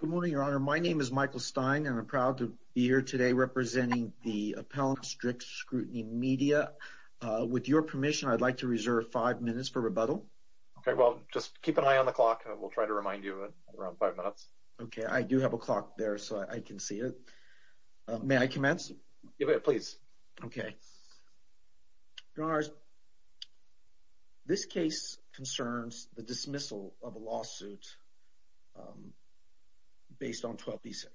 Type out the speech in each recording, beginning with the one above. Good morning, Your Honor. My name is Michael Stein, and I'm proud to be here today representing the appellant, Strict Scrutiny Media. With your permission, I'd like to reserve five minutes for rebuttal. Okay, well, just keep an eye on the clock, and we'll try to remind you in around five minutes. Okay, I do have a clock there, so I can see it. May I commence? Yeah, please. Okay. Your Honors, this case concerns the dismissal of a lawsuit based on 12b-6,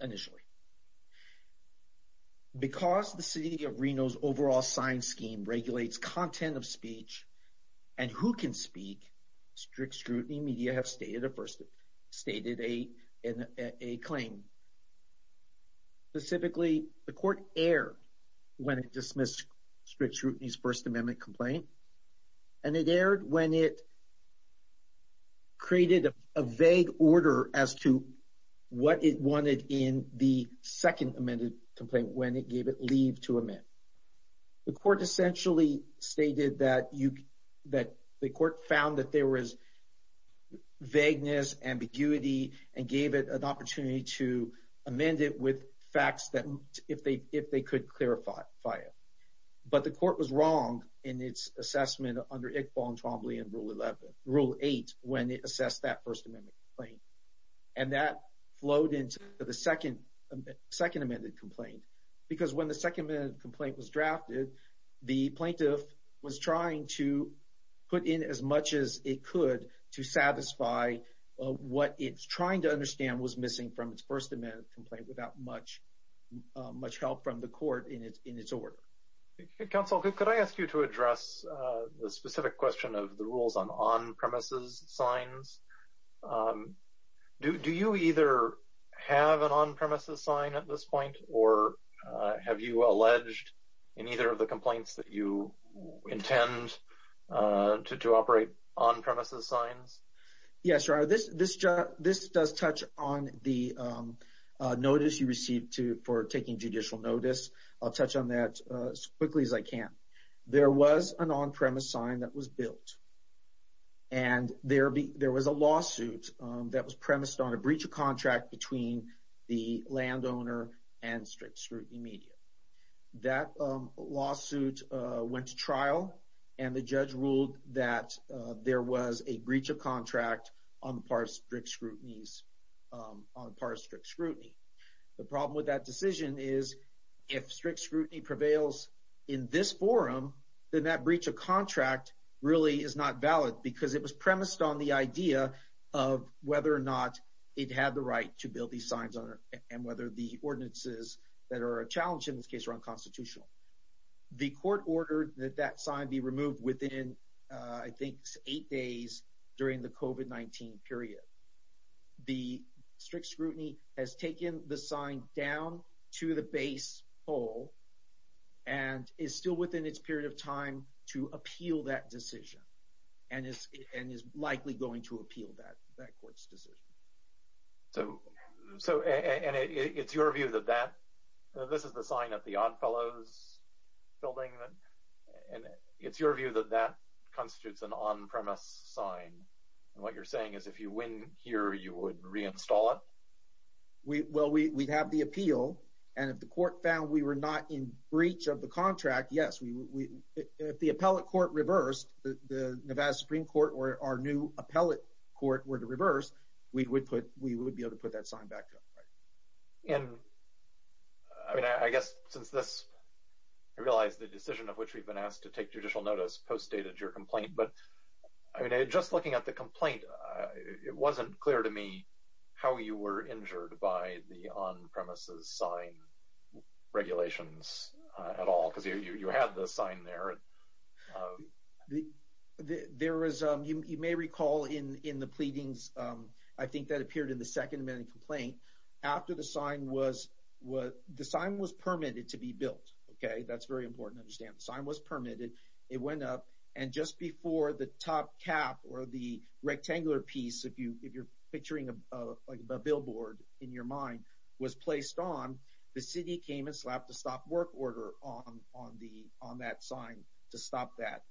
initially. Because the City of Reno's overall signed scheme regulates content of speech and who can speak, Strict Scrutiny Media have stated a claim. Specifically, the court erred when it dismissed Strict Scrutiny's First Amendment complaint, and it erred when it created a vague order as to what it wanted in the second amended complaint when it gave it leave to amend. The court essentially stated that the court found that there was vagueness, ambiguity, and gave it an opportunity to amend it with facts if they could clarify it. But the court was wrong in its assessment under Iqbal and Twombly in Rule 8 when it assessed that First Amendment complaint, and that flowed into the second amended complaint. Because when the second amended complaint was drafted, the plaintiff was trying to put in as much as it could to satisfy what it's trying to understand was missing from its First Amendment complaint without much help from the court in its order. Counsel, could I ask you to address the specific question of the rules on on-premises signs? Do you either have an on-premises sign at this point, or have you alleged in either of the complaints that you intend to operate on-premises signs? Yes, this does touch on the notice you received for taking judicial notice. I'll touch on that as quickly as I can. There was an on-premise sign that was built, and there was a lawsuit that was premised on a breach of contract between the landowner and strict scrutiny media. That lawsuit went to trial, and the judge ruled that there was a breach of contract on the part of strict scrutiny. The problem with that decision is if strict scrutiny prevails in this forum, then that breach of contract really is not valid because it was premised on the idea of whether or not it had the right to build these signs and whether the ordinances that are a challenge in this case are unconstitutional. The court ordered that that sign be removed within, I think, eight days during the COVID-19 period. The strict scrutiny has taken the sign down to the base pole and is still within its period of time to appeal that decision and is likely going to appeal that court's decision. This is the sign at the Odd Fellows building, and it's your view that that constitutes an on-premise sign, and what you're saying is if you win here, you would install it? Well, we'd have the appeal, and if the court found we were not in breach of the contract, yes. If the Nevada Supreme Court or our new appellate court were to reverse, we would be able to put that sign back up. I realize the decision of which we've been asked to take judicial notice postdated your complaint, but just looking at the complaint, it wasn't clear how you were injured by the on-premises sign regulations at all because you had the sign there. You may recall in the pleadings, I think that appeared in the second amendment complaint, after the sign was permitted to be built. That's very important to understand. The sign was a billboard in your mind was placed on. The city came and slapped a stop work order on that sign to stop that.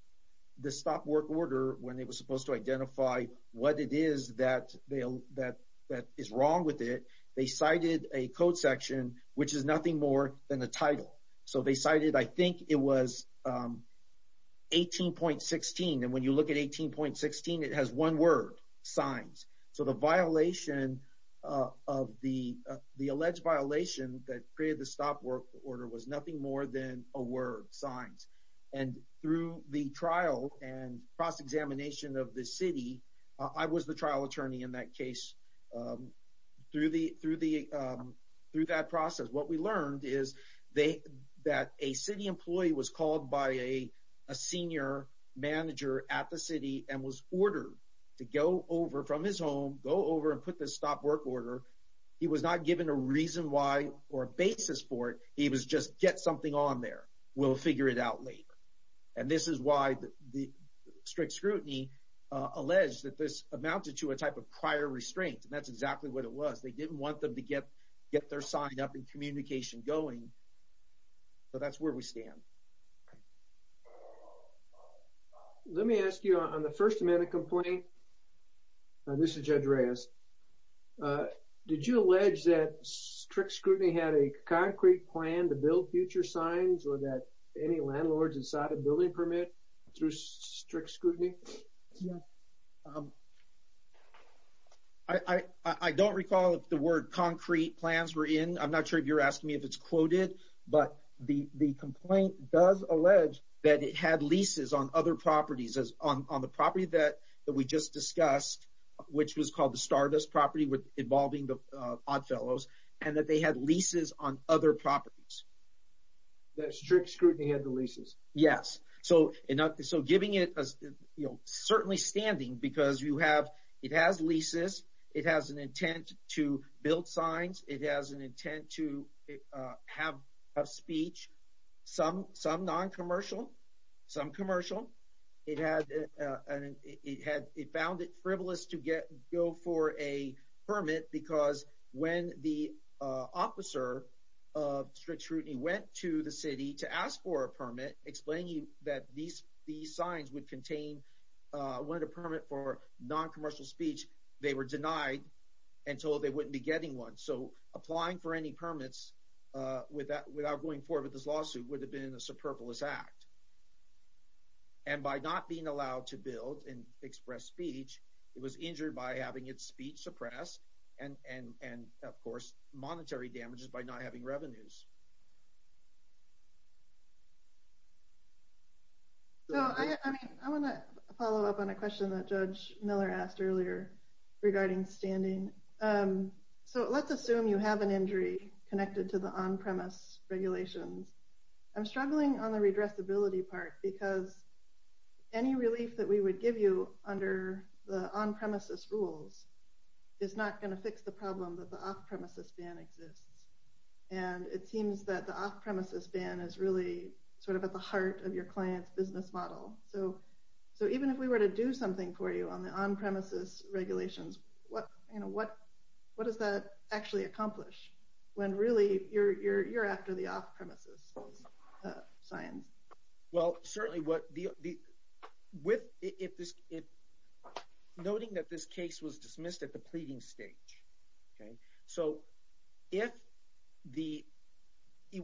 The stop work order, when it was supposed to identify what it is that is wrong with it, they cited a code section, which is nothing more than the title. They cited, I think it was 18.16, and when you look at 18.16, it has one word, signs. The alleged violation that created the stop work order was nothing more than a word, signs. Through the trial and cross-examination of the city, I was the trial attorney in that case. Through that process, what we learned is that a city employee was called by a senior manager at the city and was ordered to go over from his home and put this stop work order. He was not given a reason why or a basis for it. He was just, get something on there. We'll figure it out later. This is why the strict scrutiny alleged that this amounted to a type of prior restraint. That's exactly what it was. That's where we stand. Let me ask you on the first amendment complaint. This is Judge Reyes. Did you allege that strict scrutiny had a concrete plan to build future signs or that any landlords decided building permit through strict scrutiny? I don't recall if the word concrete plans were in. I'm not sure if it's quoted, but the complaint does allege that it had leases on other properties. On the property that we just discussed, which was called the Stardust property involving the Oddfellows, and that they had leases on other properties. That strict scrutiny had the leases? Yes. Certainly standing because it has leases. It has an intent to build signs. It has an intent to have a speech, some non-commercial, some commercial. It found it frivolous to go for a permit because when the officer of strict scrutiny went to the city to ask for a permit explaining that these signs would contain, wanted a permit for non-commercial speech, they were denied until they wouldn't be getting one. Applying for any permits without going forward with this lawsuit would have been a superfluous act. By not being allowed to build and express speech, it was injured by having its speech suppressed and of course, monetary damages by not having revenues. I want to follow up on a question that Judge Miller asked earlier regarding standing. Let's assume you have an injury connected to the on-premise regulations. I'm struggling on the redressability part because any relief that we would give you under the on-premises rules is not going to fix the problem that the off-premises ban exists. It seems that the off-premises ban is really at the heart of your client's business model. Even if we were to do something for you on the on-premises regulations, what does that actually accomplish when really you're after the off-premises signs? Well, noting that this case was dismissed at the pleading stage.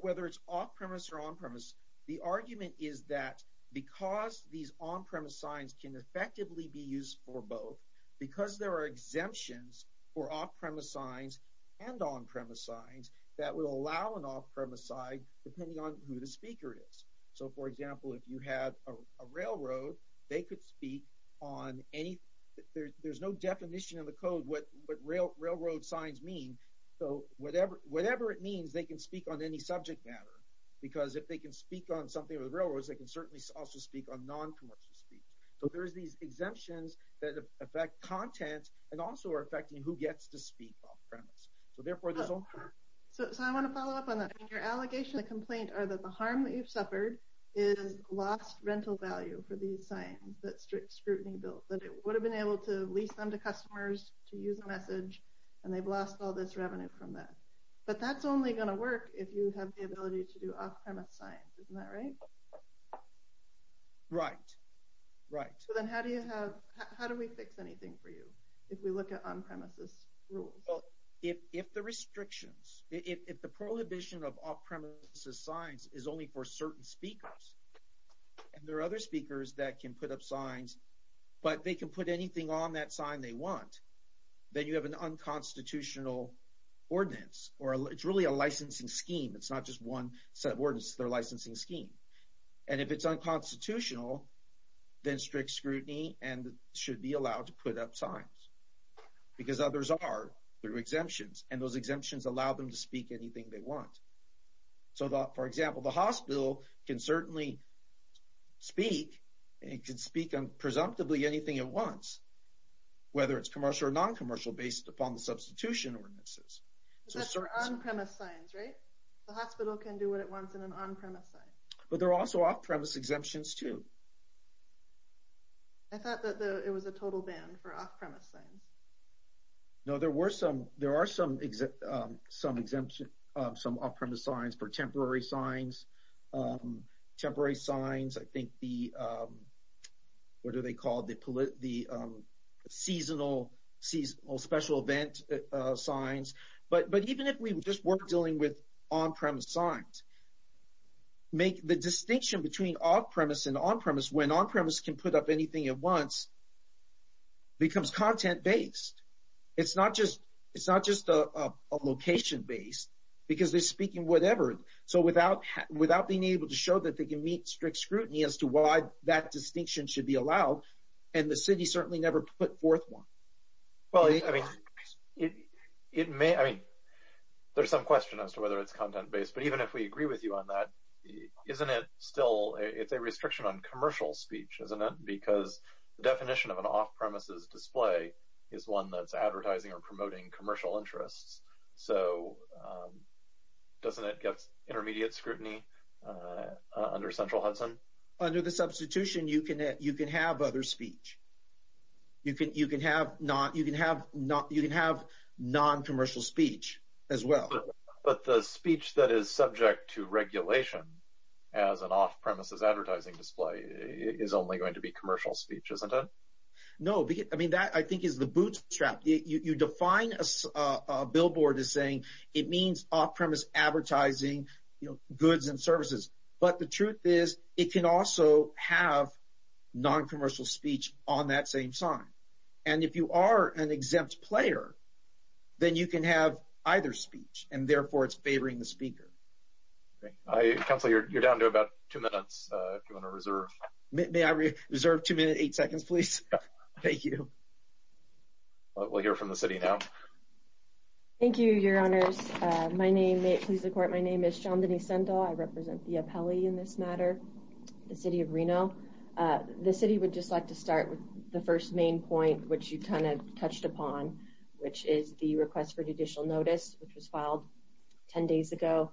Whether it's off-premise or on-premise, the argument is that because these on-premise signs can effectively be used for both, because there are exemptions for off-premise signs and on-premise signs that would allow an off-premise sign depending on who the speaker is. So, for example, if you had a railroad, they could speak on anything. There's no definition in the code what railroad signs mean. So, whatever it means, they can speak on any subject matter because if they can speak on something with railroads, they can certainly also speak on non-commercial speech. So, there's these exemptions that affect content and also are affecting who the speaker is. So, I want to follow up on that. Your allegation and complaint are that the harm that you've suffered is lost rental value for these signs that strict scrutiny built, that it would have been able to lease them to customers to use a message and they've lost all this revenue from that. But that's only going to work if you have the ability to do off-premise signs. Isn't that right? Right, right. So, then how do we fix anything for you if we look at on-premises rules? If the restrictions, if the prohibition of off-premises signs is only for certain speakers and there are other speakers that can put up signs, but they can put anything on that sign they want, then you have an unconstitutional ordinance or it's really a licensing scheme. It's not just one set of ordinances, their licensing scheme. And if it's unconstitutional, then strict scrutiny and should be allowed to put up signs because others are through exemptions and those exemptions allow them to speak anything they want. So, for example, the hospital can certainly speak and it can speak on presumptively anything it wants, whether it's commercial or non-commercial based upon the substitution ordinances. So, that's our on-premise signs, right? The hospital can do what it wants in an on-premise sign. But there are also off-premise exemptions too. I thought that it was a total ban for off-premise signs. No, there are some off-premise signs for temporary signs. Temporary signs, I think the, what do they call it? The seasonal special event signs. But even if we just weren't dealing with on-premise signs, make the distinction between off-premise and on-premise when on-premise can put up anything it wants becomes content-based. It's not just a location-based because they're speaking whatever. So, without being able to show that they can meet strict scrutiny as to why that distinction should be allowed and the city certainly never put forth one. Well, I mean, it may, I mean, there's some question as to whether it's content-based, but even if we agree with you on that, isn't it still, it's a restriction on commercial speech, isn't it? Because the definition of an off-premises display is one that's advertising or promoting commercial interests. So, doesn't it get intermediate scrutiny under Central Hudson? Under the substitution, you can have other speech. You can have non-commercial speech as well. But the speech that is subject to regulation as an off-premises advertising display is only going to be commercial speech, isn't it? No, I mean, that I think is the bootstrap. You define a billboard as saying it means off-premise advertising goods and services. But the truth is, it can also have non-commercial speech on that same sign. And if you are an exempt player, then you can have either speech and therefore it's favoring the speaker. Councilor, you're down to about two minutes. May I reserve two minutes, eight seconds, please? Thank you. We'll hear from the city now. Thank you, your honors. My name, may it please the court, my name is Shandini Sendal. I represent the appellee in this matter, the city of Reno. The city would just like to start with the first main point, which you kind of touched upon, which is the request for judicial notice, which was filed 10 days ago.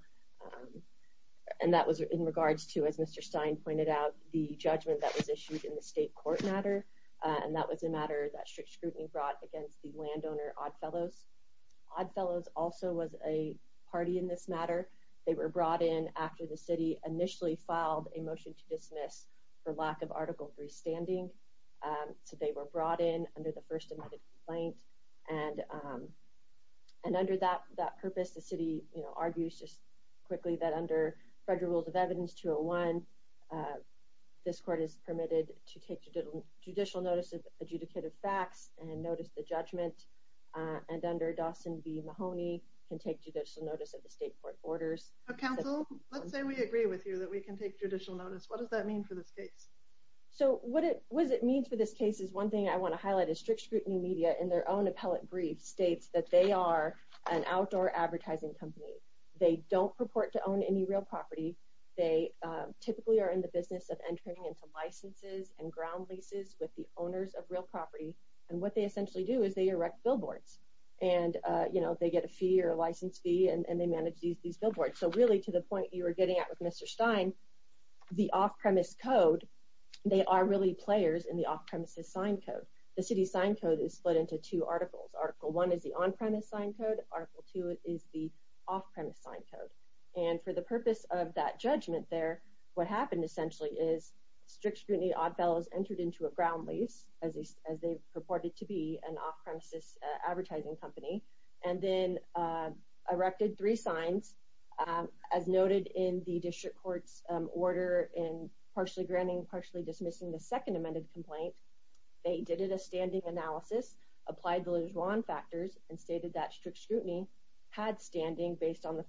And that was in regards to, as Mr. Stein pointed out, the judgment that was issued in the state court matter. And that was a matter that strict scrutiny brought against the landowner Oddfellows. Oddfellows also was a party in this matter. They were brought in after the city initially filed a motion to dismiss for lack of Article 3 standing. So they were brought in under the first amendment complaint. And under that purpose, the city argues just quickly that under federal rules of evidence 201, this court is permitted to take judicial notice of adjudicated facts and notice the judgment. And under Dawson v. Mahoney, can take judicial notice of the state court orders. Council, let's say we agree with you that we can take judicial notice. What does that mean for this case? So what it means for this case is one thing I want to highlight is strict scrutiny media in their own appellate brief states that they are an outdoor advertising company. They don't purport to own any real property. They typically are in the business of entering into licenses and ground leases with the owners of real property. And what they essentially do is they erect billboards. And they get a fee or a license fee, and they manage these billboards. So really, to the point you were getting at with Mr. Stein, the off-premise code, they are really players in the off-premises sign code. The city's sign code is split into two articles. Article 1 is the on-premise sign code. Article 2 is the off-premise sign code. And for the purpose of that judgment there, what happened essentially is strict scrutiny oddfellows entered into a ground lease, as they purported to be an off-premises advertising company, and then erected three signs, as noted in the district court's order in partially granting, partially dismissing the second amended complaint. They did a standing analysis, applied the LeJuan factors, and stated that strict scrutiny had standing based on the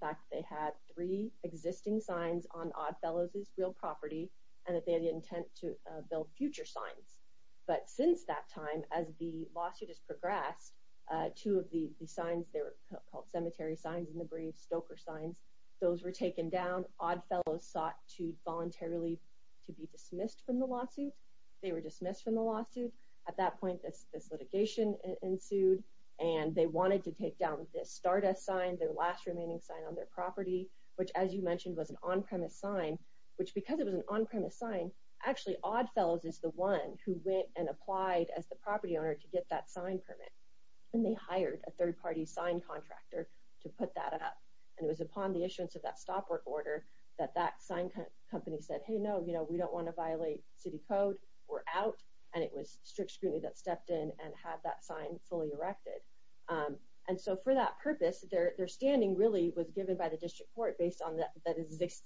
three existing signs on oddfellows' real property, and that they had the intent to build future signs. But since that time, as the lawsuit has progressed, two of the signs, they were called cemetery signs in the brief, stoker signs, those were taken down. Oddfellows sought to voluntarily be dismissed from the lawsuit. They were dismissed from the lawsuit. At that point, this litigation ensued, and they wanted to take down this Stardust sign, their last remaining sign on their property, which, as you mentioned, was an on-premise sign, which, because it was an on-premise sign, actually oddfellows is the one who went and applied as the property owner to get that sign permit. And they hired a third-party sign contractor to put that up. And it was upon the issuance of that stop work order that that sign company said, hey, no, you know, we don't want to violate city code. We're out. And it was strict scrutiny that had that sign fully erected. And so for that purpose, their standing really was given by the district court based on the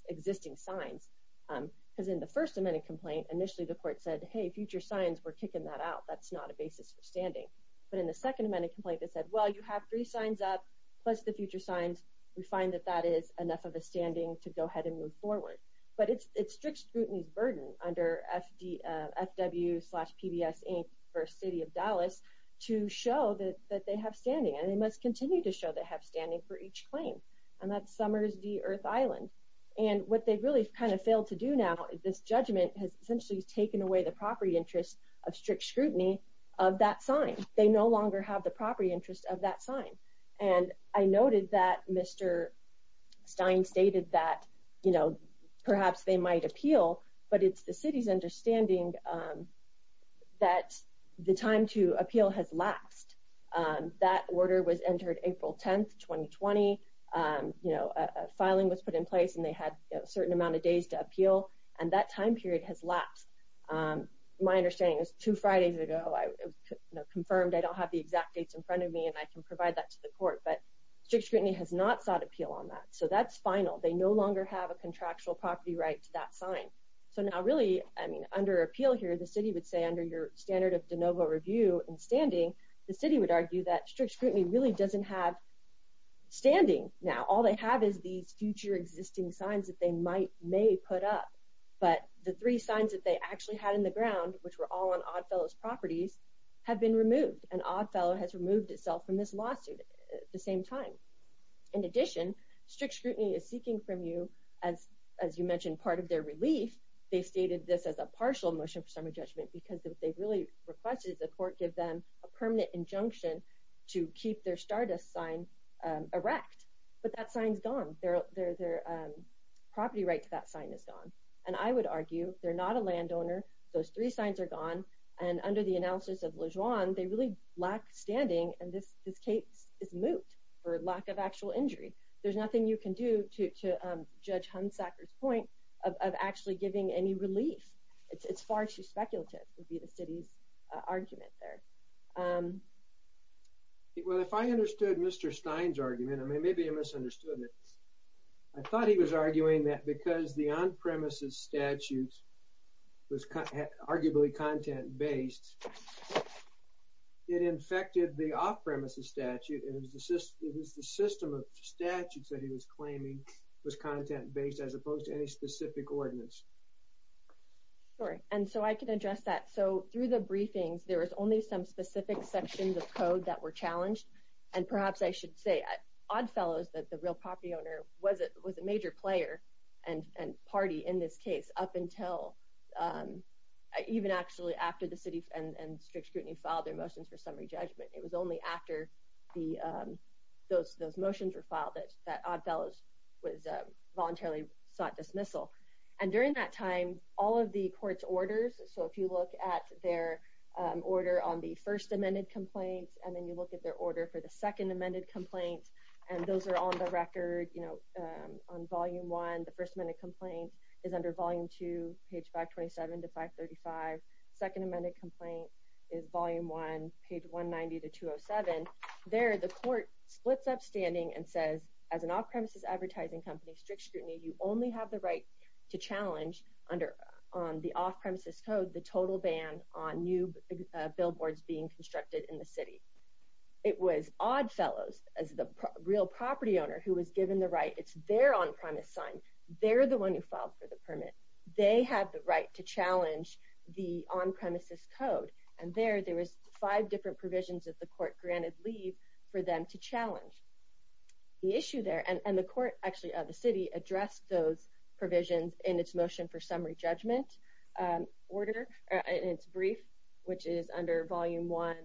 existing signs. Because in the First Amendment complaint, initially the court said, hey, future signs, we're kicking that out. That's not a basis for standing. But in the Second Amendment complaint, they said, well, you have three signs up plus the future signs. We find that that is enough of a standing to go ahead and move forward. But it's strict scrutiny's burden under FW slash PBS Inc. versus City of Dallas to show that they have standing. And they must continue to show they have standing for each claim. And that's Summers v. Earth Island. And what they've really kind of failed to do now, this judgment has essentially taken away the property interest of strict scrutiny of that sign. They no longer have the property interest of that But it's the city's understanding that the time to appeal has lapsed. That order was entered April 10, 2020. You know, a filing was put in place, and they had a certain amount of days to appeal. And that time period has lapsed. My understanding is two Fridays ago, I confirmed I don't have the exact dates in front of me, and I can provide that to the court. But strict scrutiny has not sought appeal on that. So that's final. They no longer have a contractual property right to that So now really, I mean, under appeal here, the city would say under your standard of de novo review and standing, the city would argue that strict scrutiny really doesn't have standing now. All they have is these future existing signs that they might may put up. But the three signs that they actually had in the ground, which were all on Oddfellow's properties, have been removed. And Oddfellow has removed itself from this lawsuit at the same time. In addition, strict scrutiny is part of their relief. They stated this as a partial motion for summary judgment, because what they really requested is the court give them a permanent injunction to keep their Stardust sign erect. But that sign's gone. Their property right to that sign is gone. And I would argue they're not a landowner. Those three signs are gone. And under the analysis of LeJuan, they really lack standing, and this case is moot for lack of actual injury. There's nothing you can do to Judge Hunsaker's point of actually giving any relief. It's far too speculative, would be the city's argument there. Well, if I understood Mr. Stein's argument, I mean, maybe I misunderstood it. I thought he was arguing that because the on-premises statute was arguably content-based, it infected the off-premises statute. It was the system of claiming it was content-based as opposed to any specific ordinance. Sorry. And so I can address that. So through the briefings, there was only some specific sections of code that were challenged. And perhaps I should say, Oddfellow, the real property owner, was a major player and party in this case up until even actually after the city and strict scrutiny filed their motions for summary judgment. It was only after those motions were filed that Oddfellow was voluntarily sought dismissal. And during that time, all of the court's orders, so if you look at their order on the first amended complaint, and then you look at their order for the second amended complaint, and those are on the record, on volume one, the first amended complaint is under volume two, page 527 to 535. Second amended complaint is volume one, page 190 to 207. There, the court splits upstanding and says, as an off-premises advertising company, strict scrutiny, you only have the right to challenge under, on the off-premises code, the total ban on new billboards being constructed in the city. It was Oddfellows, as the real property owner who was given the right, it's their on-premise sign, they're the one who filed for the permit. They have the right to challenge the on-premises code. And there, there was five different provisions that the court granted leave for them to challenge. The issue there, and the court, actually, the city addressed those provisions in its motion for summary judgment order, in its brief, which is under volume one,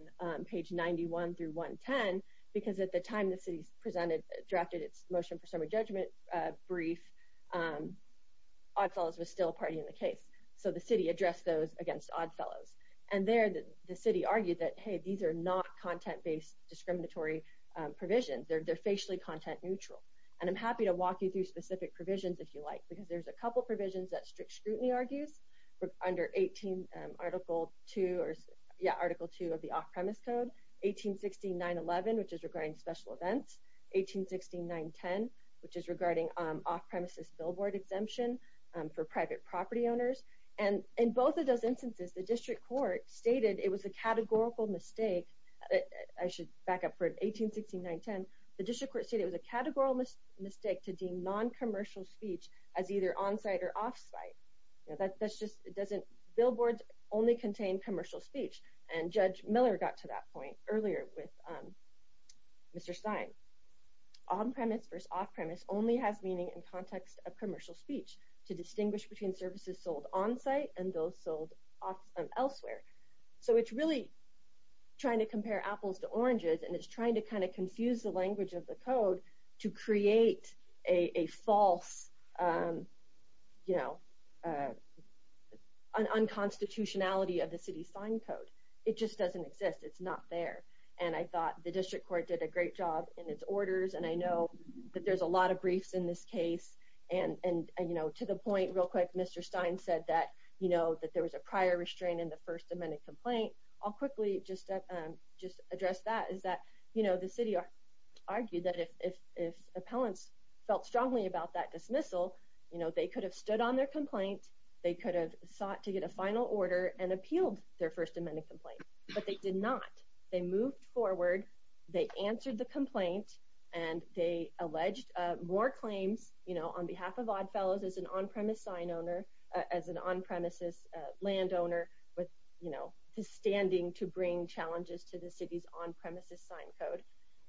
page 91 through 110, because at the time the city presented, drafted its motion for summary judgment brief, Oddfellows was still a party in the case. So the city addressed those against Oddfellows. And there, the city argued that, hey, these are not content-based discriminatory provisions. They're facially content neutral. And I'm happy to walk you through specific provisions if you like, because there's a couple provisions that strict scrutiny argues, under 18, article two, or, yeah, article two of the off-premise code, 1816.911, which is regarding special events, 1816.910, which is regarding off-premises billboard exemption for private property owners. And in both of those instances, the district court stated it was a categorical mistake. I should back up for 1816.910. The district court stated it was a categorical mistake to deem non-commercial speech as either on-site or off-site. You know, that's just, it doesn't, billboards only contain commercial speech. And Judge Miller got to that point earlier with Mr. Stein. On-premise versus off-premise only has meaning in context of commercial speech, to distinguish between services sold on-site and those sold elsewhere. So it's really trying to compare apples to oranges, and it's trying to kind of confuse the language of the code to create a false, you know, unconstitutionality of the city's sign code. It just doesn't exist. It's not there. And I thought the district court did a great job in its orders, and I know that there's a lot of briefs in this case, and you know, to the point real quick, Mr. Stein said that, you know, that there was a prior restraint in the first amended complaint. I'll quickly just address that, is that, you know, the city argued that if appellants felt strongly about that dismissal, you know, they could have stood on their complaint, they could have sought to get a final order, and appealed their first amended complaint. But they did not. They moved forward, they answered the complaint, and they alleged more claims, you know, on behalf of oddfellows as an on-premise sign owner, as an on-premises landowner with, you know, standing to bring challenges to the city's on-premises sign code.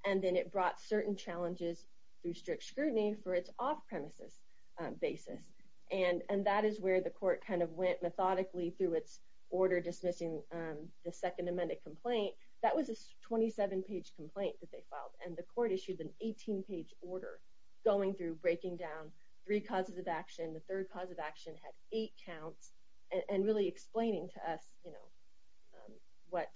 And then it brought certain challenges through strict scrutiny for its off-premises basis. And that is where the court kind of went methodically through its order dismissing the second amended complaint. That was a 27-page complaint that they filed, and the court issued an 18-page order going through, breaking down three causes of action. The third cause of action had eight counts, and really explaining to us, you know, what,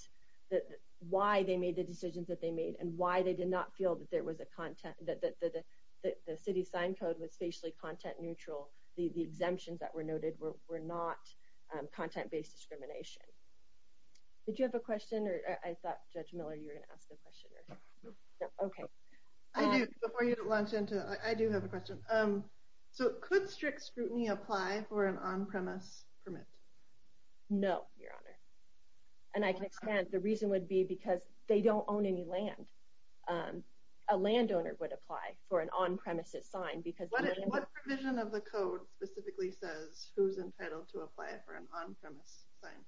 why they made the decisions that they made, and why they did not feel that there was a content, that the city's sign code was facially content neutral, the exemptions that were noted were not content-based discrimination. Did you have a question? Or I thought, Judge Miller, you were going to ask a question. Okay. I do. Before you launch into it, I do have a question. So could strict scrutiny apply for an on-premise permit? No, Your Honor. And I can expand. The reason would be because they don't own any land. A landowner would apply for an on-premises sign, because... What provision of the code specifically says who's entitled to apply for an on-premise sign?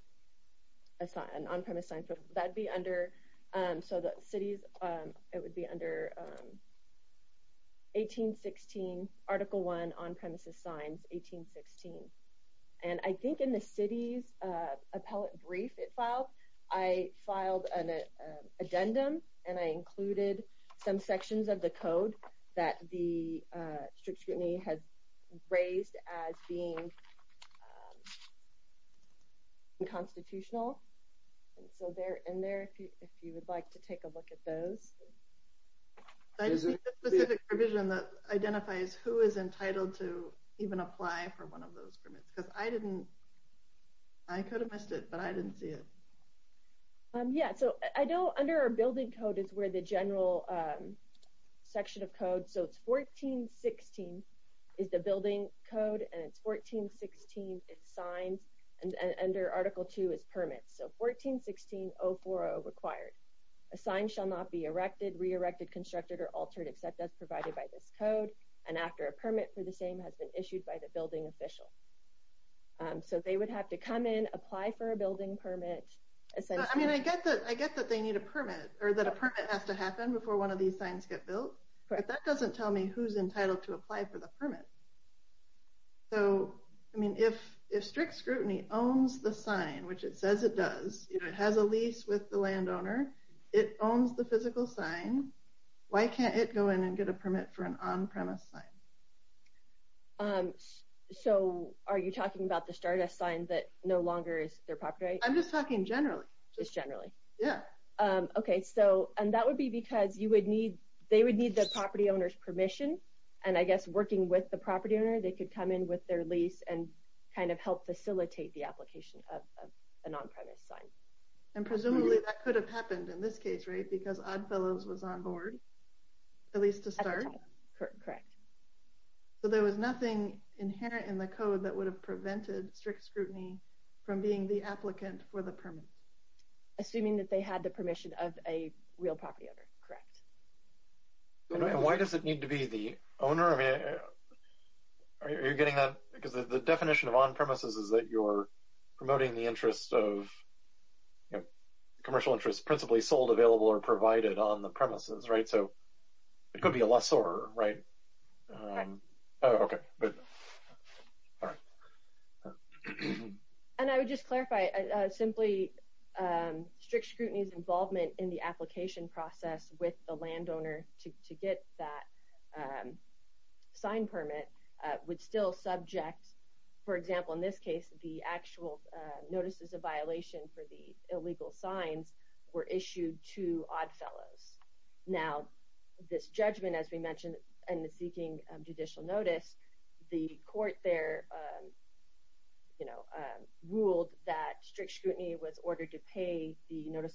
It's not an on-premises. It would be under 1816, Article 1, on-premises signs, 1816. And I think in the city's appellate brief it filed, I filed an addendum, and I included some sections of the code that the strict scrutiny has raised as being unconstitutional. And so they're in there if you would like to take a look at those. I just need a specific provision that identifies who is entitled to even apply for one of those permits, because I didn't... I could have missed it, but I didn't see it. Yeah, so I know under our building code is where the general section of code, so it's 1416 is the building code, and it's 1416 is signs, and under Article 2 is permits. So 1416.040 required. A sign shall not be erected, re-erected, constructed, or altered except as provided by this code, and after a permit for the same has been issued by the building official. So they would have to come in, apply for a building permit. I mean, I get that they need a permit, or that a permit has to happen before one of these signs get built, but that doesn't tell me who's entitled to apply for a permit. So, I mean, if strict scrutiny owns the sign, which it says it does, it has a lease with the landowner, it owns the physical sign, why can't it go in and get a permit for an on-premise sign? So are you talking about the Stardust sign that no longer is their property? I'm just talking generally. Just generally? Yeah. Okay, so, and that would be because you would need, they would need the property owner's permission, and I guess working with the property owner, they could come in with their lease and kind of help facilitate the application of an on-premise sign. And presumably that could have happened in this case, right? Because Oddfellows was on board, at least to start? Correct. So there was nothing inherent in the code that would have prevented strict scrutiny from being the applicant for the permit? Assuming that they had the permission of a real property owner, correct. And why does it need to be the owner? I mean, are you getting that? Because the definition of on-premises is that you're promoting the interest of, you know, commercial interest principally sold, available, or provided on the premises, right? So it could be a lessor, right? Correct. Oh, okay, good. All right. And I would just clarify, simply strict scrutiny's involvement in the application process with the landowner to get that sign permit would still subject, for example, in this case, the actual notices of violation for the illegal signs were issued to Oddfellows. Now, this judgment, as we mentioned, and the notice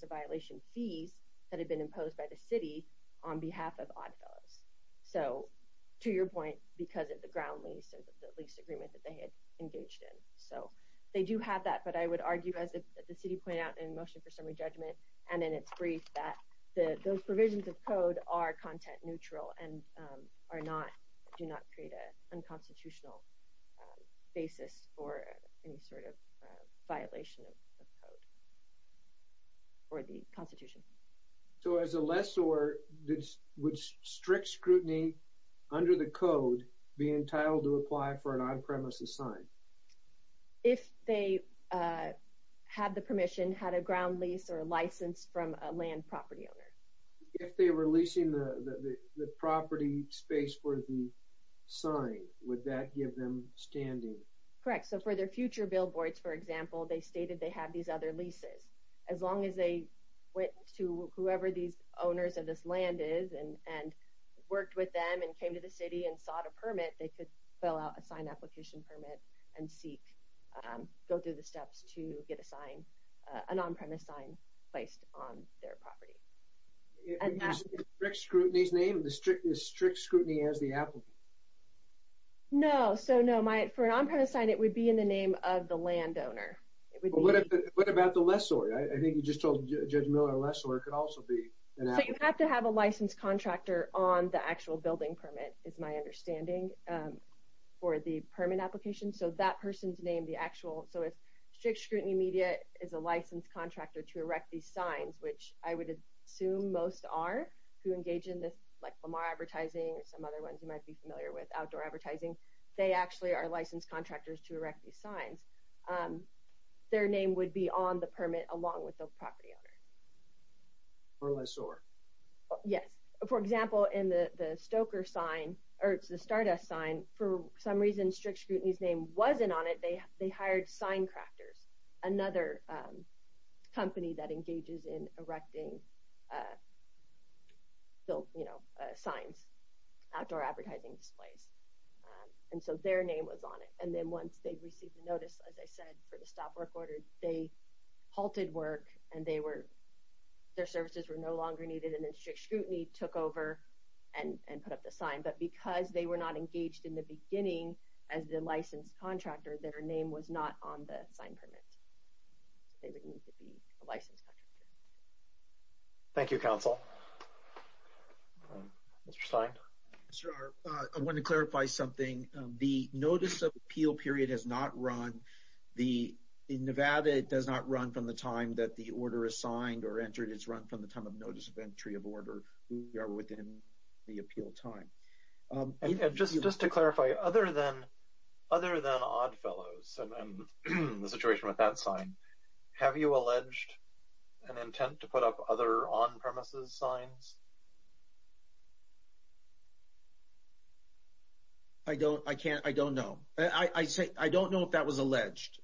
of violation fees that had been imposed by the city on behalf of Oddfellows. So to your point, because of the ground lease or the lease agreement that they had engaged in. So they do have that, but I would argue, as the city pointed out in the motion for summary judgment and in its brief, that those provisions of code are content neutral and do not create an unconstitutional basis for any sort of violation of code or the constitution. So as a lessor, would strict scrutiny under the code be entitled to apply for an on-premises sign? If they had the permission, had a ground lease or a license from a land property owner. If they were leasing the property space for the sign, would that give them standing? Correct. So for their future billboards, for example, they stated they have these other leases. As long as they went to whoever these owners of this land is and worked with them and came to the city and sought a permit, they could fill out a sign application permit and seek, go through the strict scrutiny's name, the strict scrutiny as the applicant. No, so no. For an on-premise sign, it would be in the name of the land owner. It would be... What about the lessor? I think you just told Judge Miller a lessor could also be an applicant. So you have to have a licensed contractor on the actual building permit, is my understanding, for the permit application. So that person's name, the actual... So if strict scrutiny media is a licensed contractor to erect these signs, which I would assume most are who engage in this, like Lamar Advertising or some other ones you might be familiar with, outdoor advertising, they actually are licensed contractors to erect these signs. Their name would be on the permit along with the property owner. Or lessor. Yes. For example, in the Stoker sign, or it's the Stardust sign, for some reason, strict scrutiny's name wasn't on it. They hired Sign Crafters, another company that engages in erecting signs, outdoor advertising displays. And so their name was on it. And then once they received the notice, as I said, for the stop work order, they halted work and their services were no longer needed. And then strict scrutiny took over and put up the sign. But because they were not engaged in the beginning as the licensed contractor, their name was not on the signed permit. They would need to be a licensed contractor. Thank you, Council. Mr. Stein? I wanted to clarify something. The notice of appeal period has not run. In Nevada, it does not run from the time that the order is signed or entered. It's run from the time of notice of appeal. Just to clarify, other than Oddfellows and the situation with that sign, have you alleged an intent to put up other on-premises signs? I don't know. I don't know if that was alleged,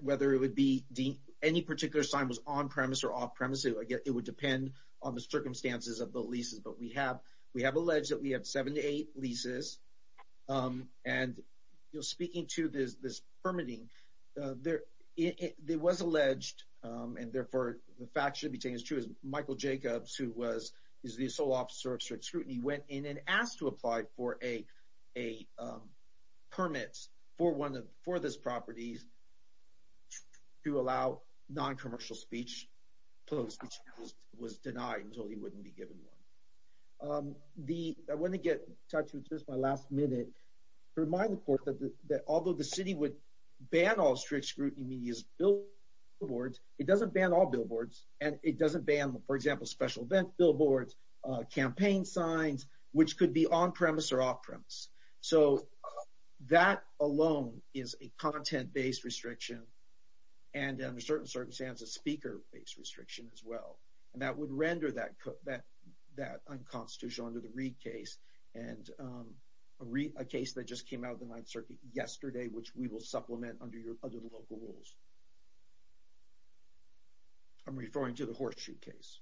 whether any particular sign was on-premise or off-premise. It would depend on the circumstances of the leases. But we have alleged that we have seven to eight leases. And speaking to this permitting, it was alleged, and therefore, the fact should be taken as true, that Michael Jacobs, who is the sole officer of strict scrutiny, went in and asked to apply for a permit for this property to allow non-commercial speech clothes, which was denied until he wouldn't be given one. I want to get in touch with you at my last minute to remind the court that although the city would ban all strict scrutiny media billboards, it doesn't ban all billboards. And it doesn't ban, for example, special event billboards, campaign signs, which could be on-premise or off-premise. So that alone is a content-based restriction. And under certain circumstances, speaker-based restriction as well. And that would render that unconstitutional under the Reed case, and a case that just came out of the Ninth Circuit yesterday, which we will supplement under the local rules. I'm referring to the Horseshoe case.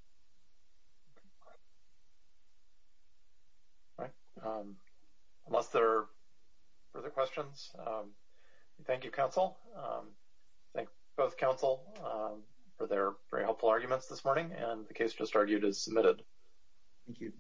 All right. Unless there are further questions, thank you, counsel. I thank both counsel for their very helpful arguments this morning, and the case just argued is submitted. Thank you.